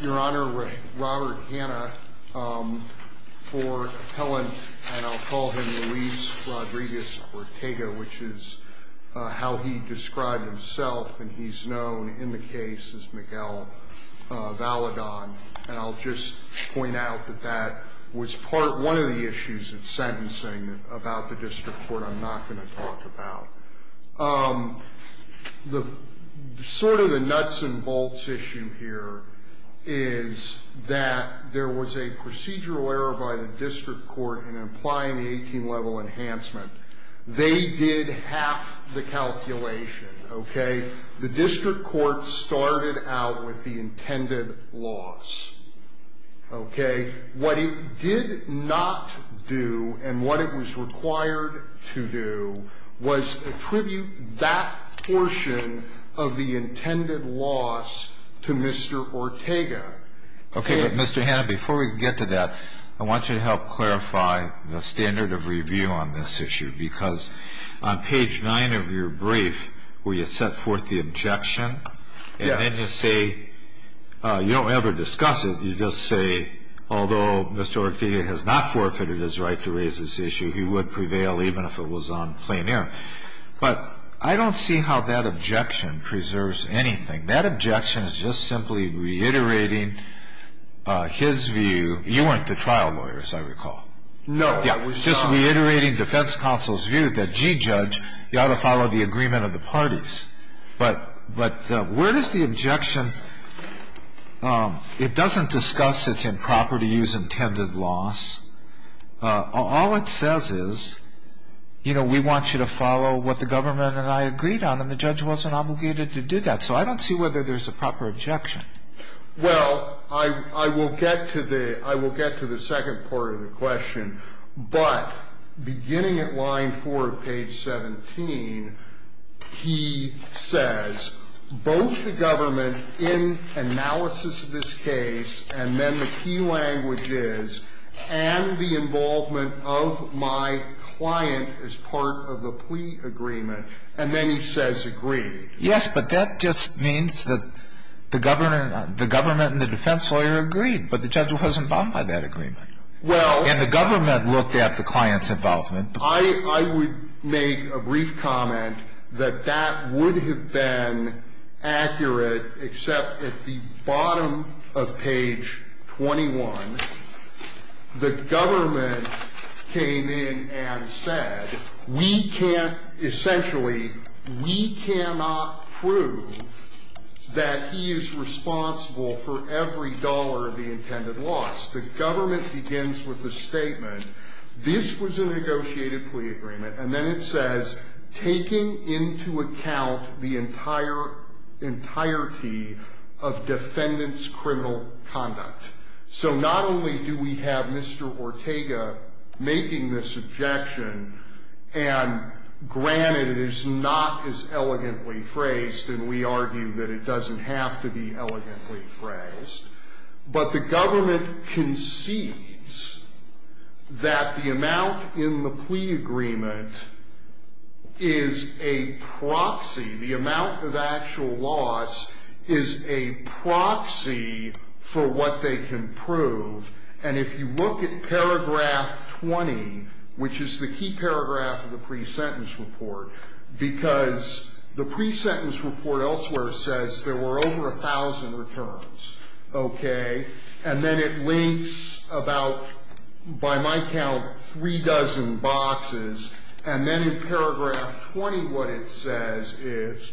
Your Honor, Robert Hanna, for appellant, and I'll call him Luis Rodriguez Ortega, which is how he described himself, and he's known in the case as Miguel Valedon. And I'll just point out that that was part one of the issues of sentencing about the district court I'm not going to talk about. The sort of the nuts and bolts issue here is that there was a procedural error by the district court in applying the 18-level enhancement. They did half the calculation, okay? The district court started out with the intended loss, okay? What it did not do and what it was required to do was attribute that portion of the intended loss to Mr. Ortega. Alito Okay. But, Mr. Hanna, before we get to that, I want you to help clarify the standard of review on this issue, because on page 9 of your brief, where you set forth the objection. Hanna Yes. Alito And then you say, you don't ever discuss it, you just say, although Mr. Ortega has not forfeited his right to raise this issue, he would prevail even if it was on plain error. But I don't see how that objection preserves anything. That objection is just simply reiterating his view. You weren't the trial lawyer, as I recall. Hanna No, I was not. Alito Just reiterating defense counsel's view that, gee, judge, you ought to follow the agreement of the parties. But where does the objection, it doesn't discuss its improper to use intended loss. All it says is, you know, we want you to follow what the government and I agreed on, and the judge wasn't obligated to do that. So I don't see whether there's a proper objection. Well, I will get to the second part of the question. But beginning at line 4 of page 17, he says, both the government in analysis of this case, and then the key languages, and the involvement of my client as part of the plea agreement, and then he says agreed. Yes, but that just means that the government and the defense lawyer agreed. But the judge wasn't bound by that agreement. And the government looked at the client's involvement. I would make a brief comment that that would have been accurate, except at the bottom of page 21, the government came in and said, we can't essentially, we cannot prove that he is responsible for every dollar of the intended loss. The government begins with the statement, this was a negotiated plea agreement, and then it says, taking into account the entirety of defendant's criminal conduct. So not only do we have Mr. Ortega making this objection, and granted it is not as elegantly phrased, and we argue that it doesn't have to be elegantly phrased, but the government concedes that the amount in the plea agreement is a proxy, the amount of actual loss is a proxy for what they can prove, and if you look at paragraph 20, which is the key paragraph of the pre-sentence report, because the pre-sentence report elsewhere says there were over a thousand returns. Okay? And then it links about, by my count, three dozen boxes, and then in paragraph 20 what it says is,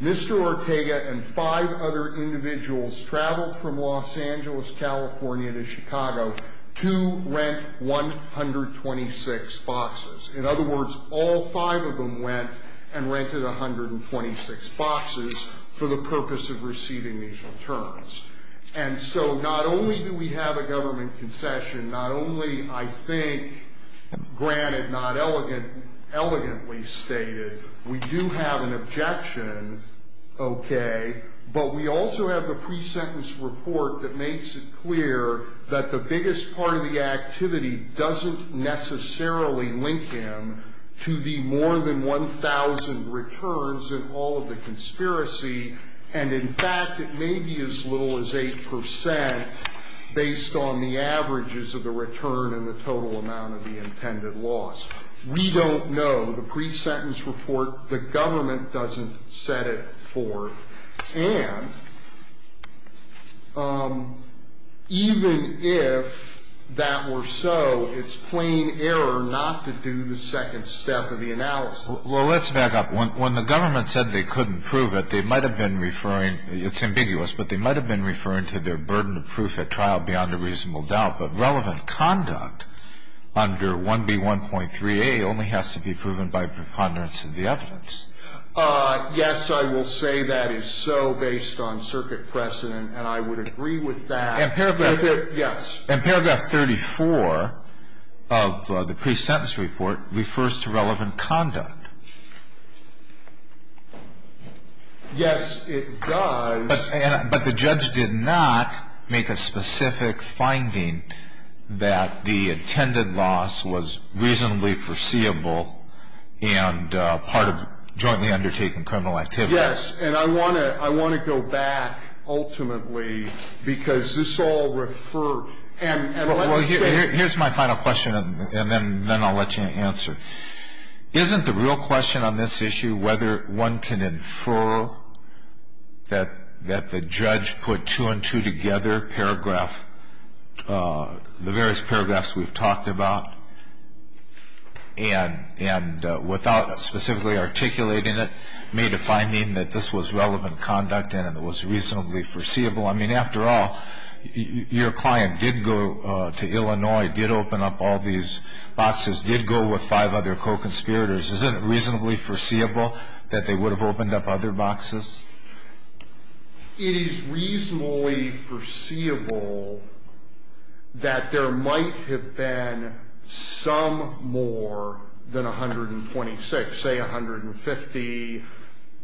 Mr. Ortega and five other individuals traveled from Los Angeles, California to Chicago to rent 126 boxes. In other words, all five of them went and rented 126 boxes for the purpose of receiving these returns. And so not only do we have a government concession, not only, I think, granted not elegantly stated, we do have an objection, okay, but we also have the pre-sentence report that to the more than 1,000 returns in all of the conspiracy, and in fact, it may be as little as 8 percent based on the averages of the return and the total amount of the intended loss. We don't know. The pre-sentence report, the government doesn't set it forth. And even if that were so, it's plain error not to do the second step of the analysis. Well, let's back up. When the government said they couldn't prove it, they might have been referring to their burden of proof at trial beyond a reasonable doubt, but relevant conduct under 1B1.3a only has to be proven by preponderance of the evidence. Yes, I will say that is so based on circuit precedent, and I would agree with that. And paragraph 34 of the pre-sentence report refers to relevant conduct. Yes, it does. But the judge did not make a specific finding that the intended loss was reasonably foreseeable and part of jointly undertaken criminal activity. Yes. And I want to go back ultimately, because this all referred to. Well, here's my final question, and then I'll let you answer. Isn't the real question on this issue whether one can infer that the judge put two and two together, the various paragraphs we've talked about? And without specifically articulating it, made a finding that this was relevant conduct and it was reasonably foreseeable? I mean, after all, your client did go to Illinois, did open up all these boxes, did go with five other co-conspirators. Isn't it reasonably foreseeable that they would have opened up other boxes? It is reasonably foreseeable that there might have been some more than 126, say 150.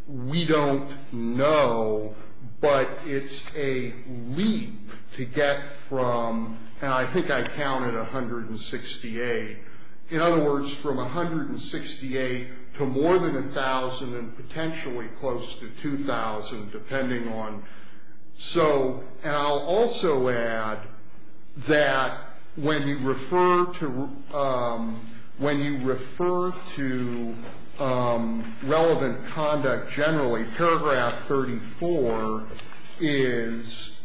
We don't know, but it's a leap to get from, and I think I counted 168. In other words, from 168 to more than 1,000 and potentially close to 2,000, depending on. So, and I'll also add that when you refer to relevant conduct generally, paragraph 34 is,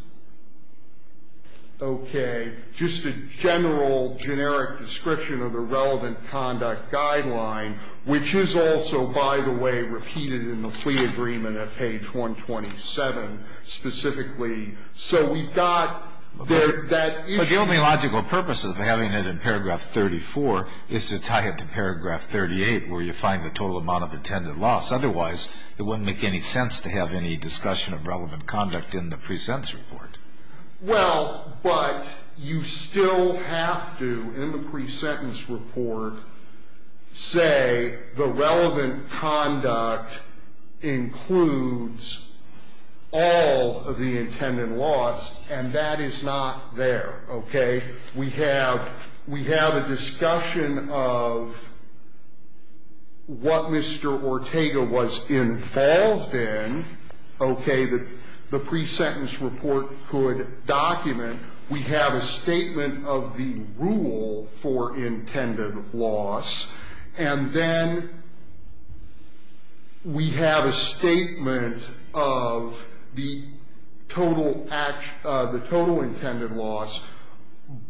okay, just a general generic description of the relevant conduct guideline, which is also, by the way, repeated in the fleet agreement at page 127 specifically. So we've got that issue. But the only logical purpose of having it in paragraph 34 is to tie it to paragraph 38, where you find the total amount of intended loss. Otherwise, it wouldn't make any sense to have any discussion of relevant conduct in the pre-sentence report. Well, but you still have to, in the pre-sentence report, say the relevant conduct includes all of the intended loss, and that is not there, okay? We have a discussion of what Mr. Ortega was involved in, okay? What the pre-sentence report could document. We have a statement of the rule for intended loss. And then we have a statement of the total intended loss.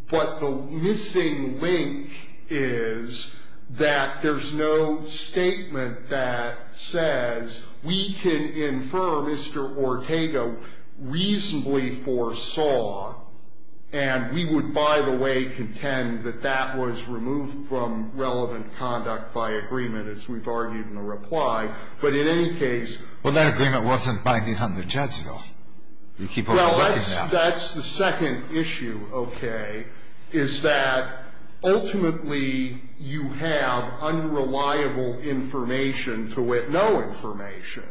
But the missing link is that there's no statement that says we can infer Mr. Ortega reasonably foresaw, and we would, by the way, contend that that was removed from relevant conduct by agreement, as we've argued in the reply. But in any case. Well, that agreement wasn't binding on the judge, though. You keep overlooking that. That's the second issue, okay, is that ultimately you have unreliable information to wit no information.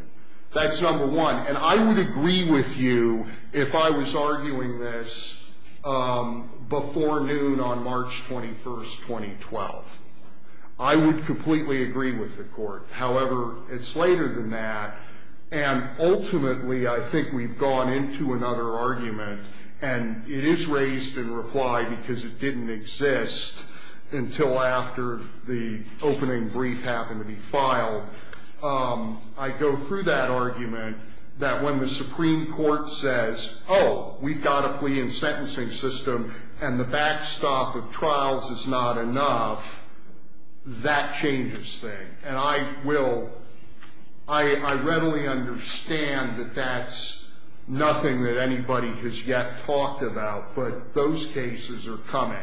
That's number one. And I would agree with you if I was arguing this before noon on March 21st, 2012. I would completely agree with the Court. However, it's later than that. And ultimately I think we've gone into another argument, and it is raised in reply because it didn't exist until after the opening brief happened to be filed. I go through that argument that when the Supreme Court says, oh, we've got a plea and sentencing system, and the backstop of trials is not enough, that changes things. And I will ‑‑ I readily understand that that's nothing that anybody has yet talked about, but those cases are coming.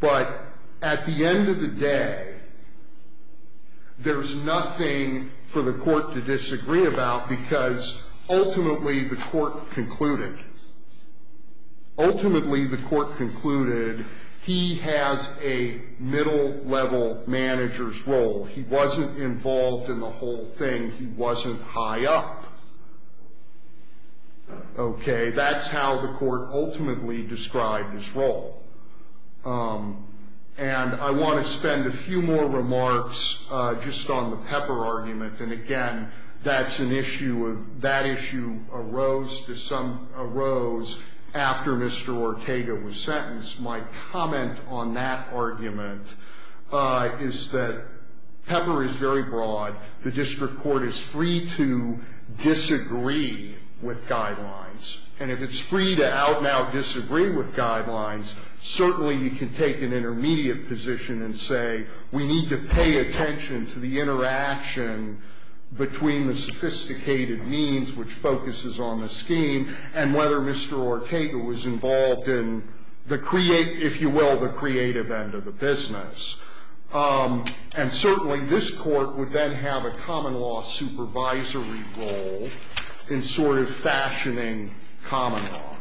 But at the end of the day, there's nothing for the Court to disagree about, because ultimately the Court concluded, ultimately the Court concluded he has a middle-level manager's role. He wasn't involved in the whole thing. He wasn't high up. Okay. That's how the Court ultimately described his role. And I want to spend a few more remarks just on the Pepper argument. And again, that's an issue of ‑‑ that issue arose to some ‑‑ arose after Mr. Ortega was sentenced. My comment on that argument is that Pepper is very broad. The district court is free to disagree with guidelines. And if it's free to out now disagree with guidelines, certainly you can take an intermediate position and say, we need to pay attention to the interaction between the sophisticated means, which focuses on the scheme, and whether Mr. Ortega was involved in the, if you will, the creative end of the business. And certainly this Court would then have a common law supervisory role in sort of fashioning common law.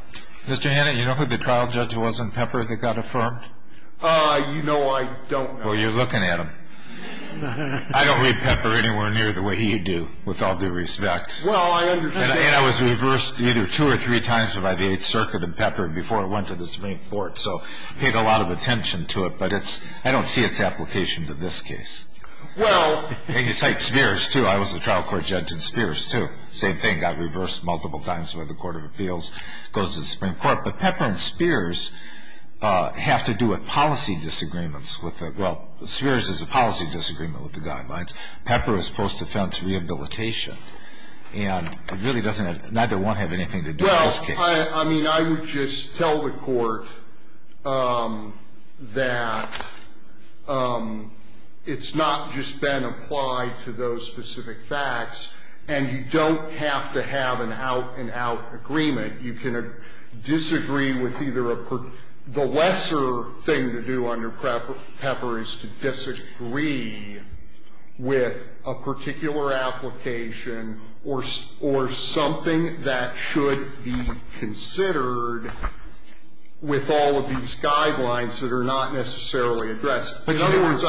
Mr. Hannon, you know who the trial judge was in Pepper that got affirmed? You know, I don't know. Well, you're looking at him. I don't read Pepper anywhere near the way you do, with all due respect. Well, I understand. And I was reversed either two or three times by the Eighth Circuit in Pepper before it went to the Supreme Court. So it paid a lot of attention to it. But it's ‑‑ I don't see its application in this case. Well ‑‑ And you cite Spears, too. I was a trial court judge in Spears, too. Same thing, got reversed multiple times by the Court of Appeals, goes to the Supreme Court. But Pepper and Spears have to do with policy disagreements with the ‑‑ well, Spears is a policy disagreement with the guidelines. Pepper is post defense rehabilitation. And it really doesn't ‑‑ neither one have anything to do with this case. Well, I mean, I would just tell the Court that it's not just been applied to those specific facts. And you don't have to have an out‑and‑out agreement. You can disagree with either a ‑‑ the lesser thing to do under Pepper is to disagree with a particular application or something that should be considered with all of these guidelines that are not necessarily addressed. In other words,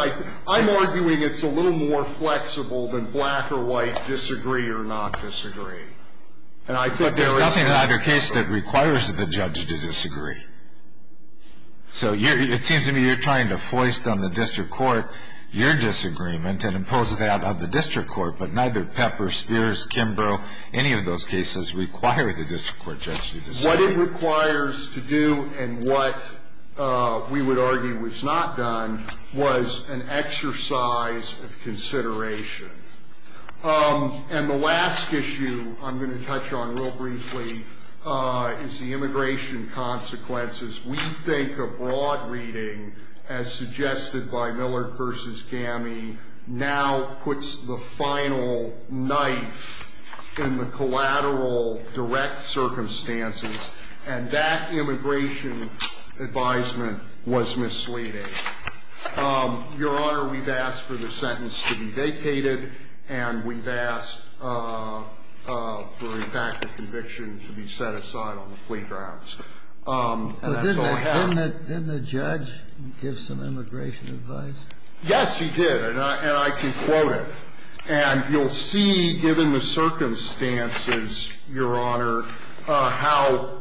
I'm arguing it's a little more flexible than black or white disagree or not disagree. And I think there is ‑‑ But there's nothing in either case that requires the judge to disagree. So it seems to me you're trying to foist on the district court your disagreement and impose that on the district court. But neither Pepper, Spears, Kimbrough, any of those cases require the district court judge to disagree. What it requires to do and what we would argue was not done was an exercise of consideration. And the last issue I'm going to touch on real briefly is the immigration consequences. We think a broad reading, as suggested by Miller v. Gammie, now puts the final knife in the collateral direct circumstances. And that immigration advisement was misleading. Your Honor, we've asked for the sentence to be vacated. And we've asked for, in fact, the conviction to be set aside on the plea grounds. And that's all I have. Didn't the judge give some immigration advice? Yes, he did. And I can quote it. And you'll see, given the circumstances, Your Honor, how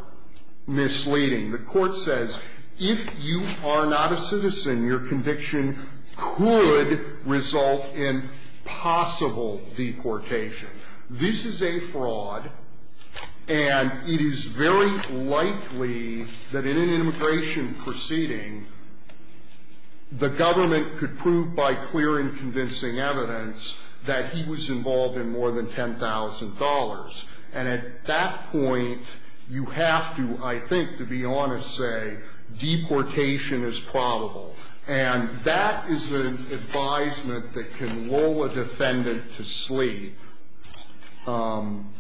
misleading. The court says if you are not a citizen, your conviction could result in possible deportation. This is a fraud. And it is very likely that in an immigration proceeding, the government could prove by clear and convincing evidence that he was involved in more than $10,000. And at that point, you have to, I think, to be honest, say deportation is probable. And that is an advisement that can lull a defendant to sleep. And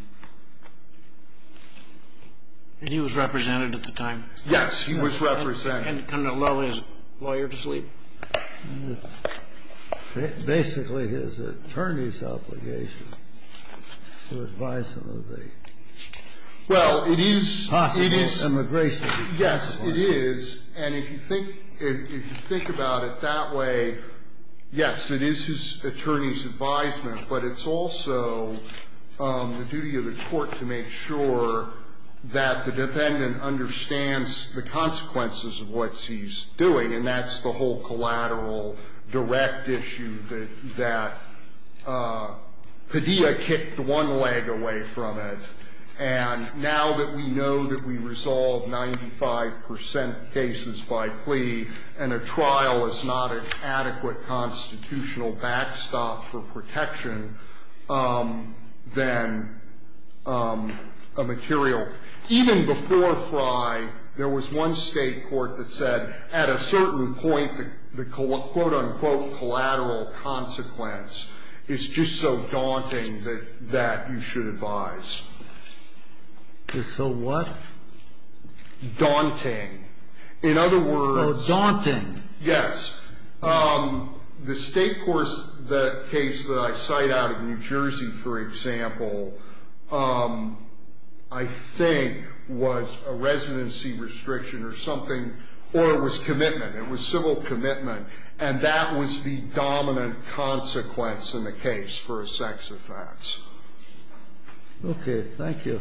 he was represented at the time? Yes, he was represented. Basically, his attorney's obligation to advise him of the possible immigration. Yes, it is. And if you think about it that way, yes, it is his attorney's advisement. But it's also the duty of the court to make sure that the defendant understands the consequences of what he's doing. And that's the whole collateral direct issue that Padilla kicked one leg away from it. And now that we know that we resolve 95 percent cases by plea, and a trial is not an adequate constitutional backstop for protection, then a material Even before Frye, there was one state court that said, at a certain point, the quote-unquote collateral consequence is just so daunting that that you should advise. Is so what? Daunting. In other words. Oh, daunting. Yes. The state courts, the case that I cite out of New Jersey, for example, I think was a residency restriction or something, or it was commitment. It was civil commitment. And that was the dominant consequence in the case for a sex offense. Okay. Thank you.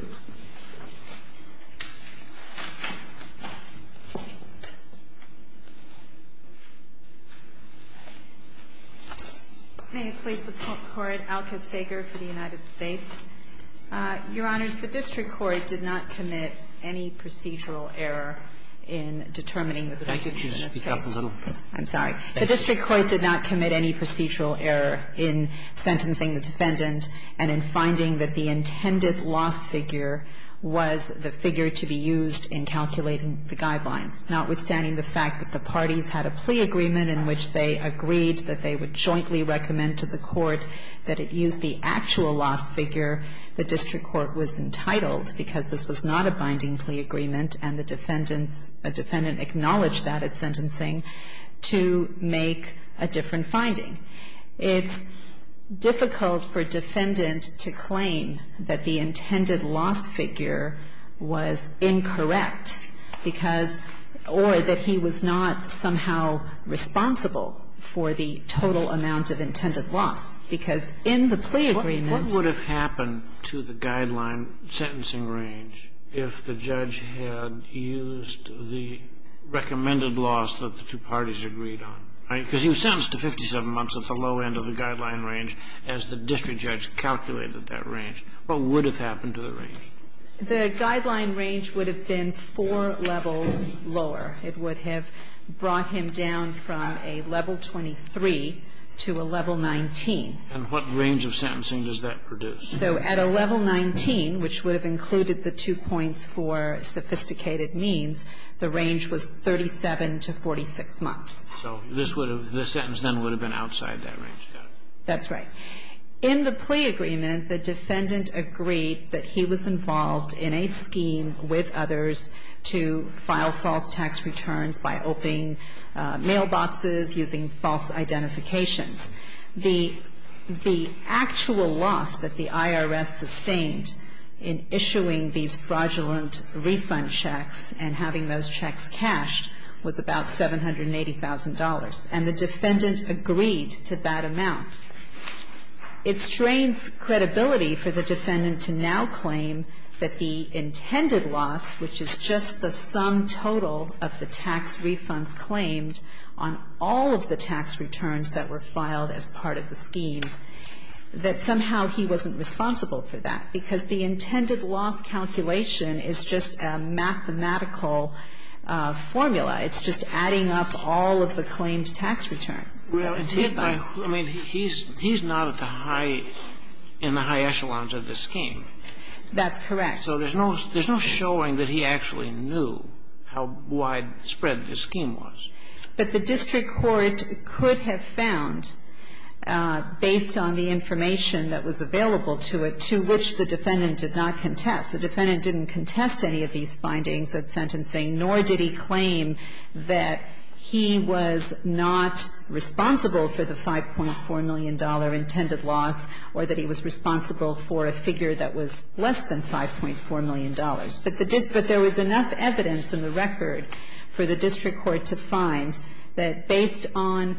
May it please the Court. Alka Sager for the United States. Your Honors, the district court did not commit any procedural error in determining the defendant in this case. Thank you. Could you speak up a little? I'm sorry. The district court did not commit any procedural error in sentencing the defendant and in finding that the intended loss figure was the figure to be used in calculating the guidelines. Notwithstanding the fact that the parties had a plea agreement in which they agreed that they would jointly recommend to the court that it use the actual loss figure, the district court was entitled, because this was not a binding plea agreement and the defendant acknowledged that at sentencing, to make a different finding. It's difficult for a defendant to claim that the intended loss figure was incorrect because or that he was not somehow responsible for the total amount of intended loss, because in the plea agreements. What would have happened to the guideline sentencing range if the judge had used the recommended loss that the two parties agreed on? Because he was sentenced to 57 months at the low end of the guideline range as the district judge calculated that range. What would have happened to the range? The guideline range would have been four levels lower. It would have brought him down from a level 23 to a level 19. And what range of sentencing does that produce? So at a level 19, which would have included the two points for sophisticated means, the range was 37 to 46 months. So this would have been, the sentence then would have been outside that range. That's right. In the plea agreement, the defendant agreed that he was involved in a scheme with others to file false tax returns by opening mailboxes using false identifications. The actual loss that the IRS sustained in issuing these fraudulent refund checks and having those checks cashed was about $780,000, and the defendant agreed to that amount. It strains credibility for the defendant to now claim that the intended loss, which is just the sum total of the tax refunds claimed on all of the tax returns that were filed as part of the scheme, that somehow he wasn't responsible for that. Because the intended loss calculation is just a mathematical formula. It's just adding up all of the claimed tax returns. Really? I mean, he's not at the high, in the high echelons of the scheme. That's correct. So there's no showing that he actually knew how widespread the scheme was. But the district court could have found, based on the information that was available to it, to which the defendant did not contest. The defendant didn't contest any of these findings at sentencing, nor did he claim that he was not responsible for the $5.4 million intended loss or that he was responsible for a figure that was less than $5.4 million. But there was enough evidence in the record for the district court to find that, based on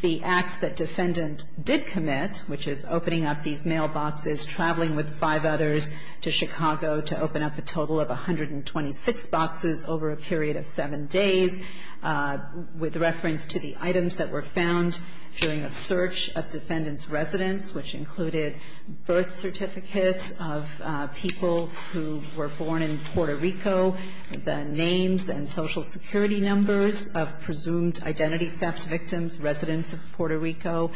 the acts that defendant did commit, which is opening up these mailboxes, traveling with five others to Chicago to open up a total of 126 boxes over a period of 7 days, with reference to the items that were found during a search of defendant's residence, which included birth certificates of people who were born in Puerto Rico, identity theft victims, residents of Puerto Rico,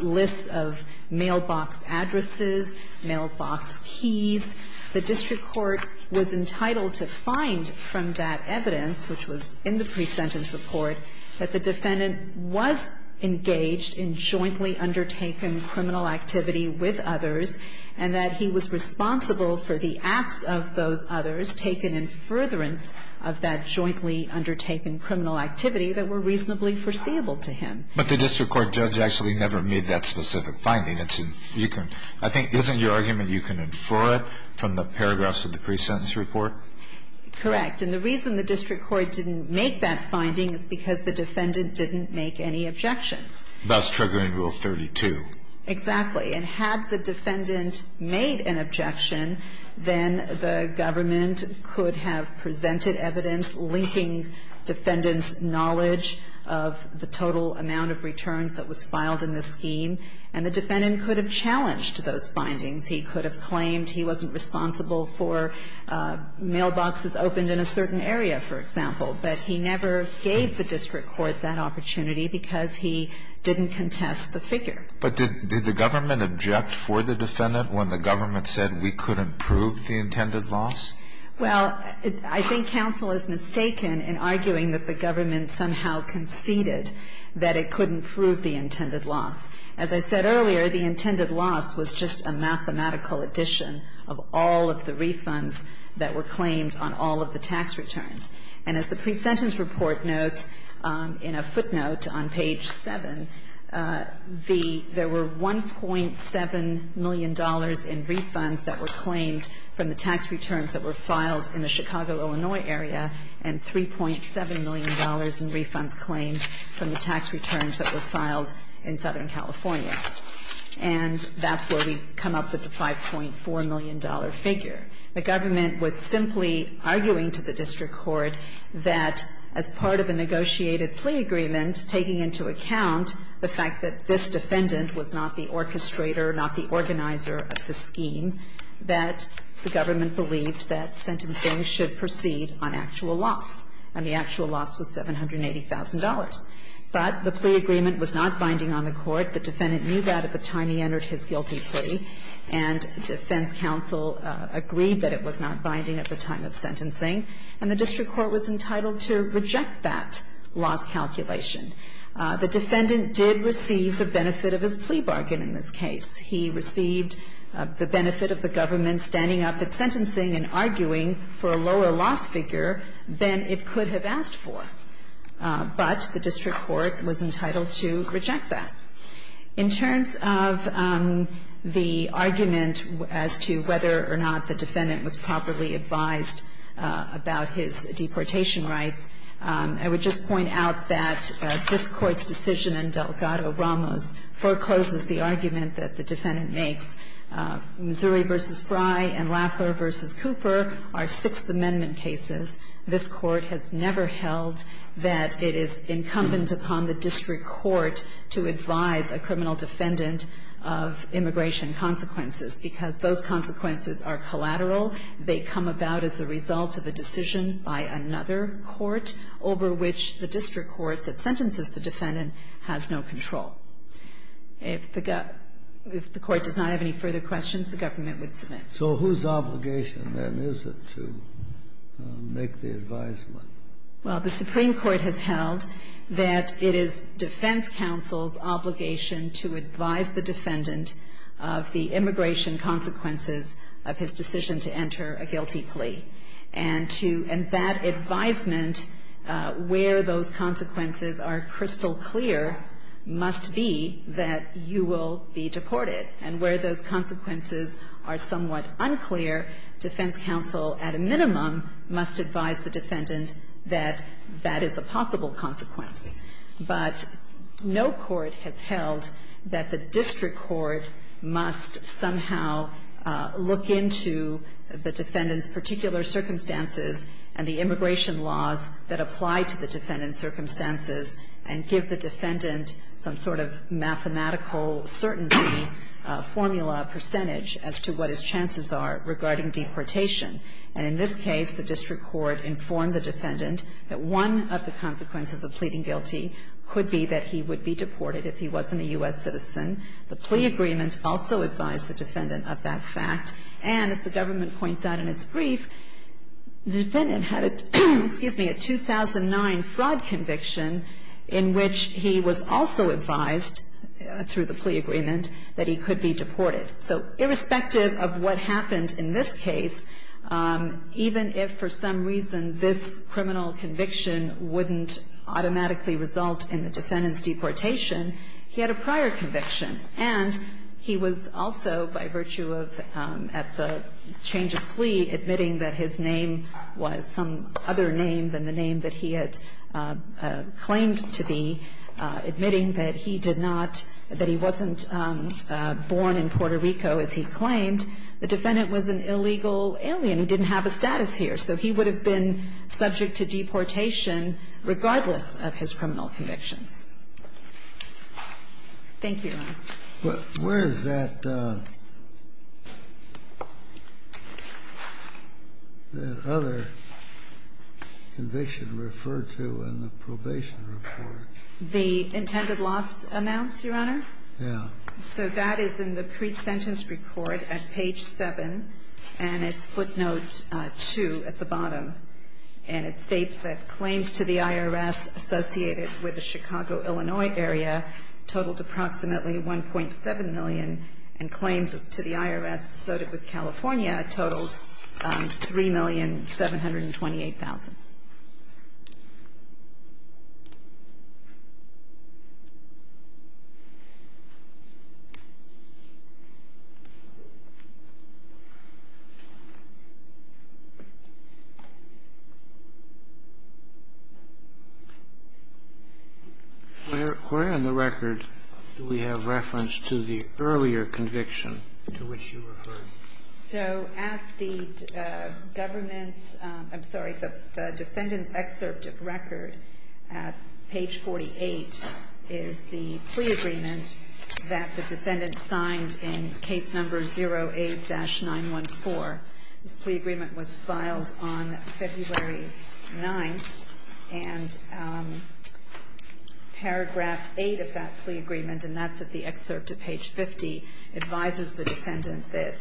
lists of mailbox addresses, mailbox keys. The district court was entitled to find from that evidence, which was in the presentence report, that the defendant was engaged in jointly undertaken criminal activity with others, and that he was responsible for the acts of those others taken in furtherance of that jointly undertaken criminal activity that were reasonably foreseeable to him. But the district court judge actually never made that specific finding. I think, isn't your argument you can infer it from the paragraphs of the presentence report? Correct. And the reason the district court didn't make that finding is because the defendant didn't make any objections. Thus triggering Rule 32. Exactly. And had the defendant made an objection, then the government could have presented evidence linking defendant's knowledge of the total amount of returns that was filed in the scheme, and the defendant could have challenged those findings. He could have claimed he wasn't responsible for mailboxes opened in a certain area, for example. But he never gave the district court that opportunity because he didn't contest the figure. But did the government object for the defendant when the government said we couldn't prove the intended loss? Well, I think counsel is mistaken in arguing that the government somehow conceded that it couldn't prove the intended loss. As I said earlier, the intended loss was just a mathematical addition of all of the And as the presentence report notes in a footnote on page 7, there were $1.7 million in refunds that were claimed from the tax returns that were filed in the Chicago, Illinois area, and $3.7 million in refunds claimed from the tax returns that were filed in Southern California. And that's where we come up with the $5.4 million figure. The government was simply arguing to the district court that as part of a negotiated plea agreement, taking into account the fact that this defendant was not the orchestrator, not the organizer of the scheme, that the government believed that sentencing should proceed on actual loss, and the actual loss was $780,000. But the plea agreement was not binding on the court. The defendant knew that at the time he entered his guilty plea, and defense counsel agreed that it was not binding at the time of sentencing. And the district court was entitled to reject that loss calculation. The defendant did receive the benefit of his plea bargain in this case. He received the benefit of the government standing up at sentencing and arguing for a lower loss figure than it could have asked for. But the district court was entitled to reject that. In terms of the argument as to whether or not the defendant was properly advised about his deportation rights, I would just point out that this Court's decision in Delgado-Ramos forecloses the argument that the defendant makes. Missouri v. Fry and Lafleur v. Cooper are Sixth Amendment cases. This Court has never held that it is incumbent upon the district court to advise a criminal defendant of immigration consequences, because those consequences are collateral. They come about as a result of a decision by another court over which the district court that sentences the defendant has no control. If the court does not have any further questions, the government would submit. So whose obligation, then, is it to make the advisement? Well, the Supreme Court has held that it is defense counsel's obligation to advise the defendant of the immigration consequences of his decision to enter a guilty plea. And to embed advisement where those consequences are crystal clear must be that you will be deported, and where those consequences are somewhat unclear, defense counsel at a minimum must advise the defendant that that is a possible consequence. But no court has held that the district court must somehow look into the defendant's particular circumstances and the immigration laws that apply to the defendant's And in this case, the district court informed the defendant that one of the consequences of pleading guilty could be that he would be deported if he wasn't a U.S. citizen. The plea agreement also advised the defendant of that fact. And as the government points out in its brief, the defendant had a 2009 fraud conviction in which he was also advised through the plea agreement that he could be deported. So irrespective of what happened in this case, even if for some reason this criminal conviction wouldn't automatically result in the defendant's deportation, he had a prior conviction. And he was also, by virtue of at the change of plea, admitting that his name was some other name than the name that he had claimed to be, admitting that he did not, that he wasn't born in Puerto Rico as he claimed, the defendant was an illegal alien. He didn't have a status here. So he would have been subject to deportation regardless of his criminal convictions. Thank you, Your Honor. Where is that other conviction referred to in the probation report? The intended loss amounts, Your Honor? Yeah. So that is in the pre-sentence report at page 7, and it's footnote 2 at the bottom. And it states that claims to the IRS associated with the Chicago, Illinois area totaled approximately 1.7 million, and claims to the IRS associated with California totaled 3,728,000. Where on the record do we have reference to the earlier conviction to which you referred? So at the government's, I'm sorry, the defendant's excerpt of record at page 48 is the plea agreement that the defendant signed in case number 08-914. This plea agreement was filed on February 9th, and paragraph 8 of that plea agreement, and that's at the excerpt at page 50, advises the defendant that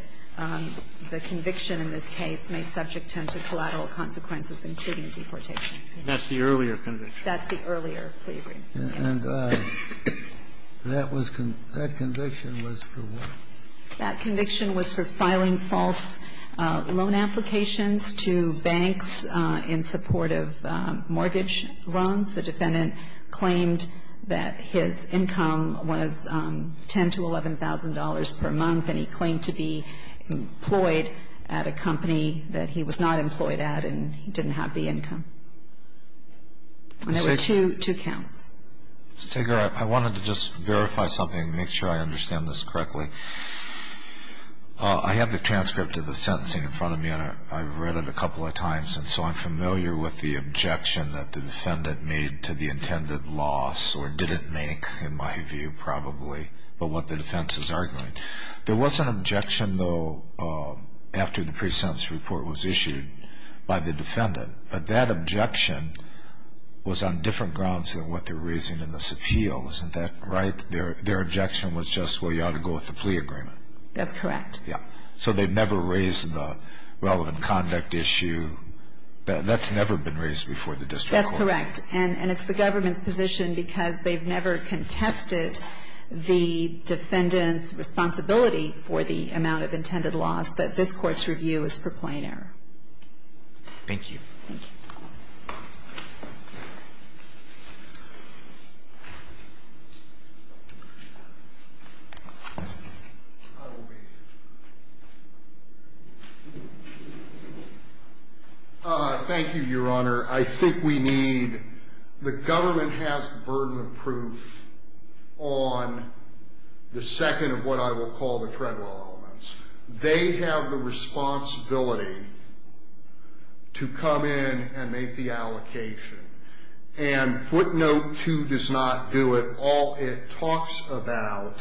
the conviction in this case may subject him to collateral consequences, including deportation. That's the earlier conviction? That's the earlier plea agreement, yes. And that conviction was for what? That conviction was for filing false loan applications to banks in support of mortgage loans. The defendant claimed that his income was $10,000 to $11,000 per month, and he claimed to be employed at a company that he was not employed at, and he didn't have the income. And there were two counts. Ms. Tegerer, I wanted to just verify something, make sure I understand this correctly. I have the transcript of the sentencing in front of me, and I've read it a couple of times, and so I'm familiar with the objection that the defendant made to the intended loss, or didn't make, in my view, probably, but what the defense is arguing. There was an objection, though, after the pre-sentence report was issued by the defendant, but that objection was on different grounds than what they were raising in this appeal. Isn't that right? Their objection was just, well, you ought to go with the plea agreement. That's correct. Yeah. So they've never raised the relevant conduct issue. That's never been raised before the district court. That's correct. And it's the government's position, because they've never contested the defendant's responsibility for the amount of intended loss, that this Court's review is for plain error. Thank you. Thank you. Thank you, Your Honor. I think we need, the government has the burden of proof on the second of what I will call the federal elements. They have the responsibility to come in and make the allocation, and footnote 2 does not do it. All it talks about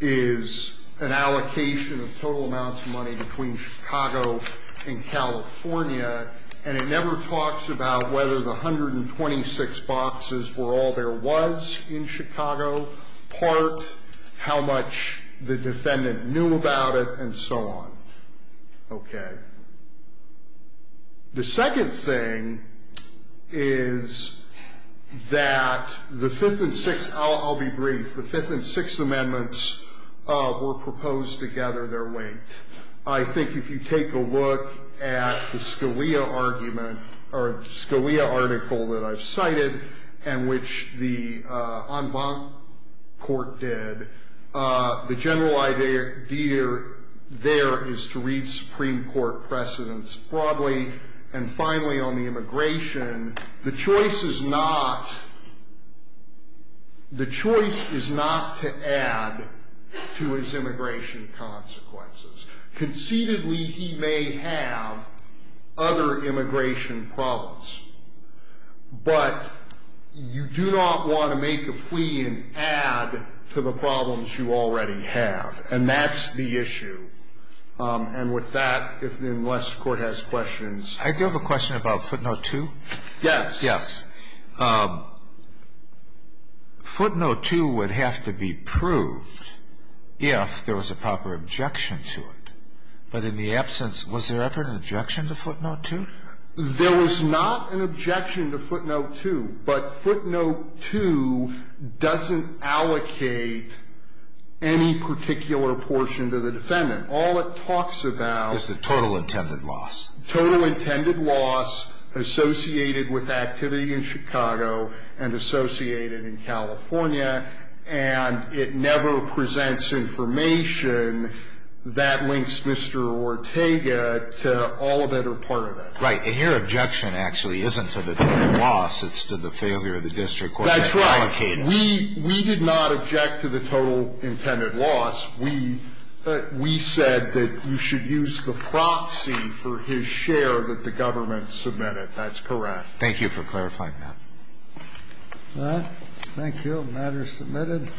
is an allocation of total amounts of money between Chicago and California, and it never talks about whether the 126 boxes were all there was in Chicago, part, how much the defendant knew about it, and so on. Okay. The second thing is that the Fifth and Sixth, I'll be brief. The Fifth and Sixth Amendments were proposed to gather their weight. I think if you take a look at the Scalia argument, or the Scalia article that I've cited, and which the en banc court did, the general idea there is to read Supreme Court precedents broadly, and finally, on the immigration, the choice is not, the choice is not to add to his immigration consequences. Concededly, he may have other immigration problems, but you do not want to make a plea and add to the problems you already have, and that's the issue. And with that, unless the Court has questions. I do have a question about footnote 2. Yes. Yes. Footnote 2 would have to be proved if there was a proper objection to it. But in the absence, was there ever an objection to footnote 2? There was not an objection to footnote 2, but footnote 2 doesn't allocate any particular portion to the defendant. All it talks about is the total intended loss. Total intended loss associated with activity in Chicago and associated in California, and it never presents information that links Mr. Ortega to all that are part of it. Right. And your objection actually isn't to the total loss. It's to the failure of the district court to allocate it. That's right. We did not object to the total intended loss. We said that you should use the proxy for his share that the government submitted. That's correct. Thank you for clarifying that. All right. Thank you. The matter is submitted.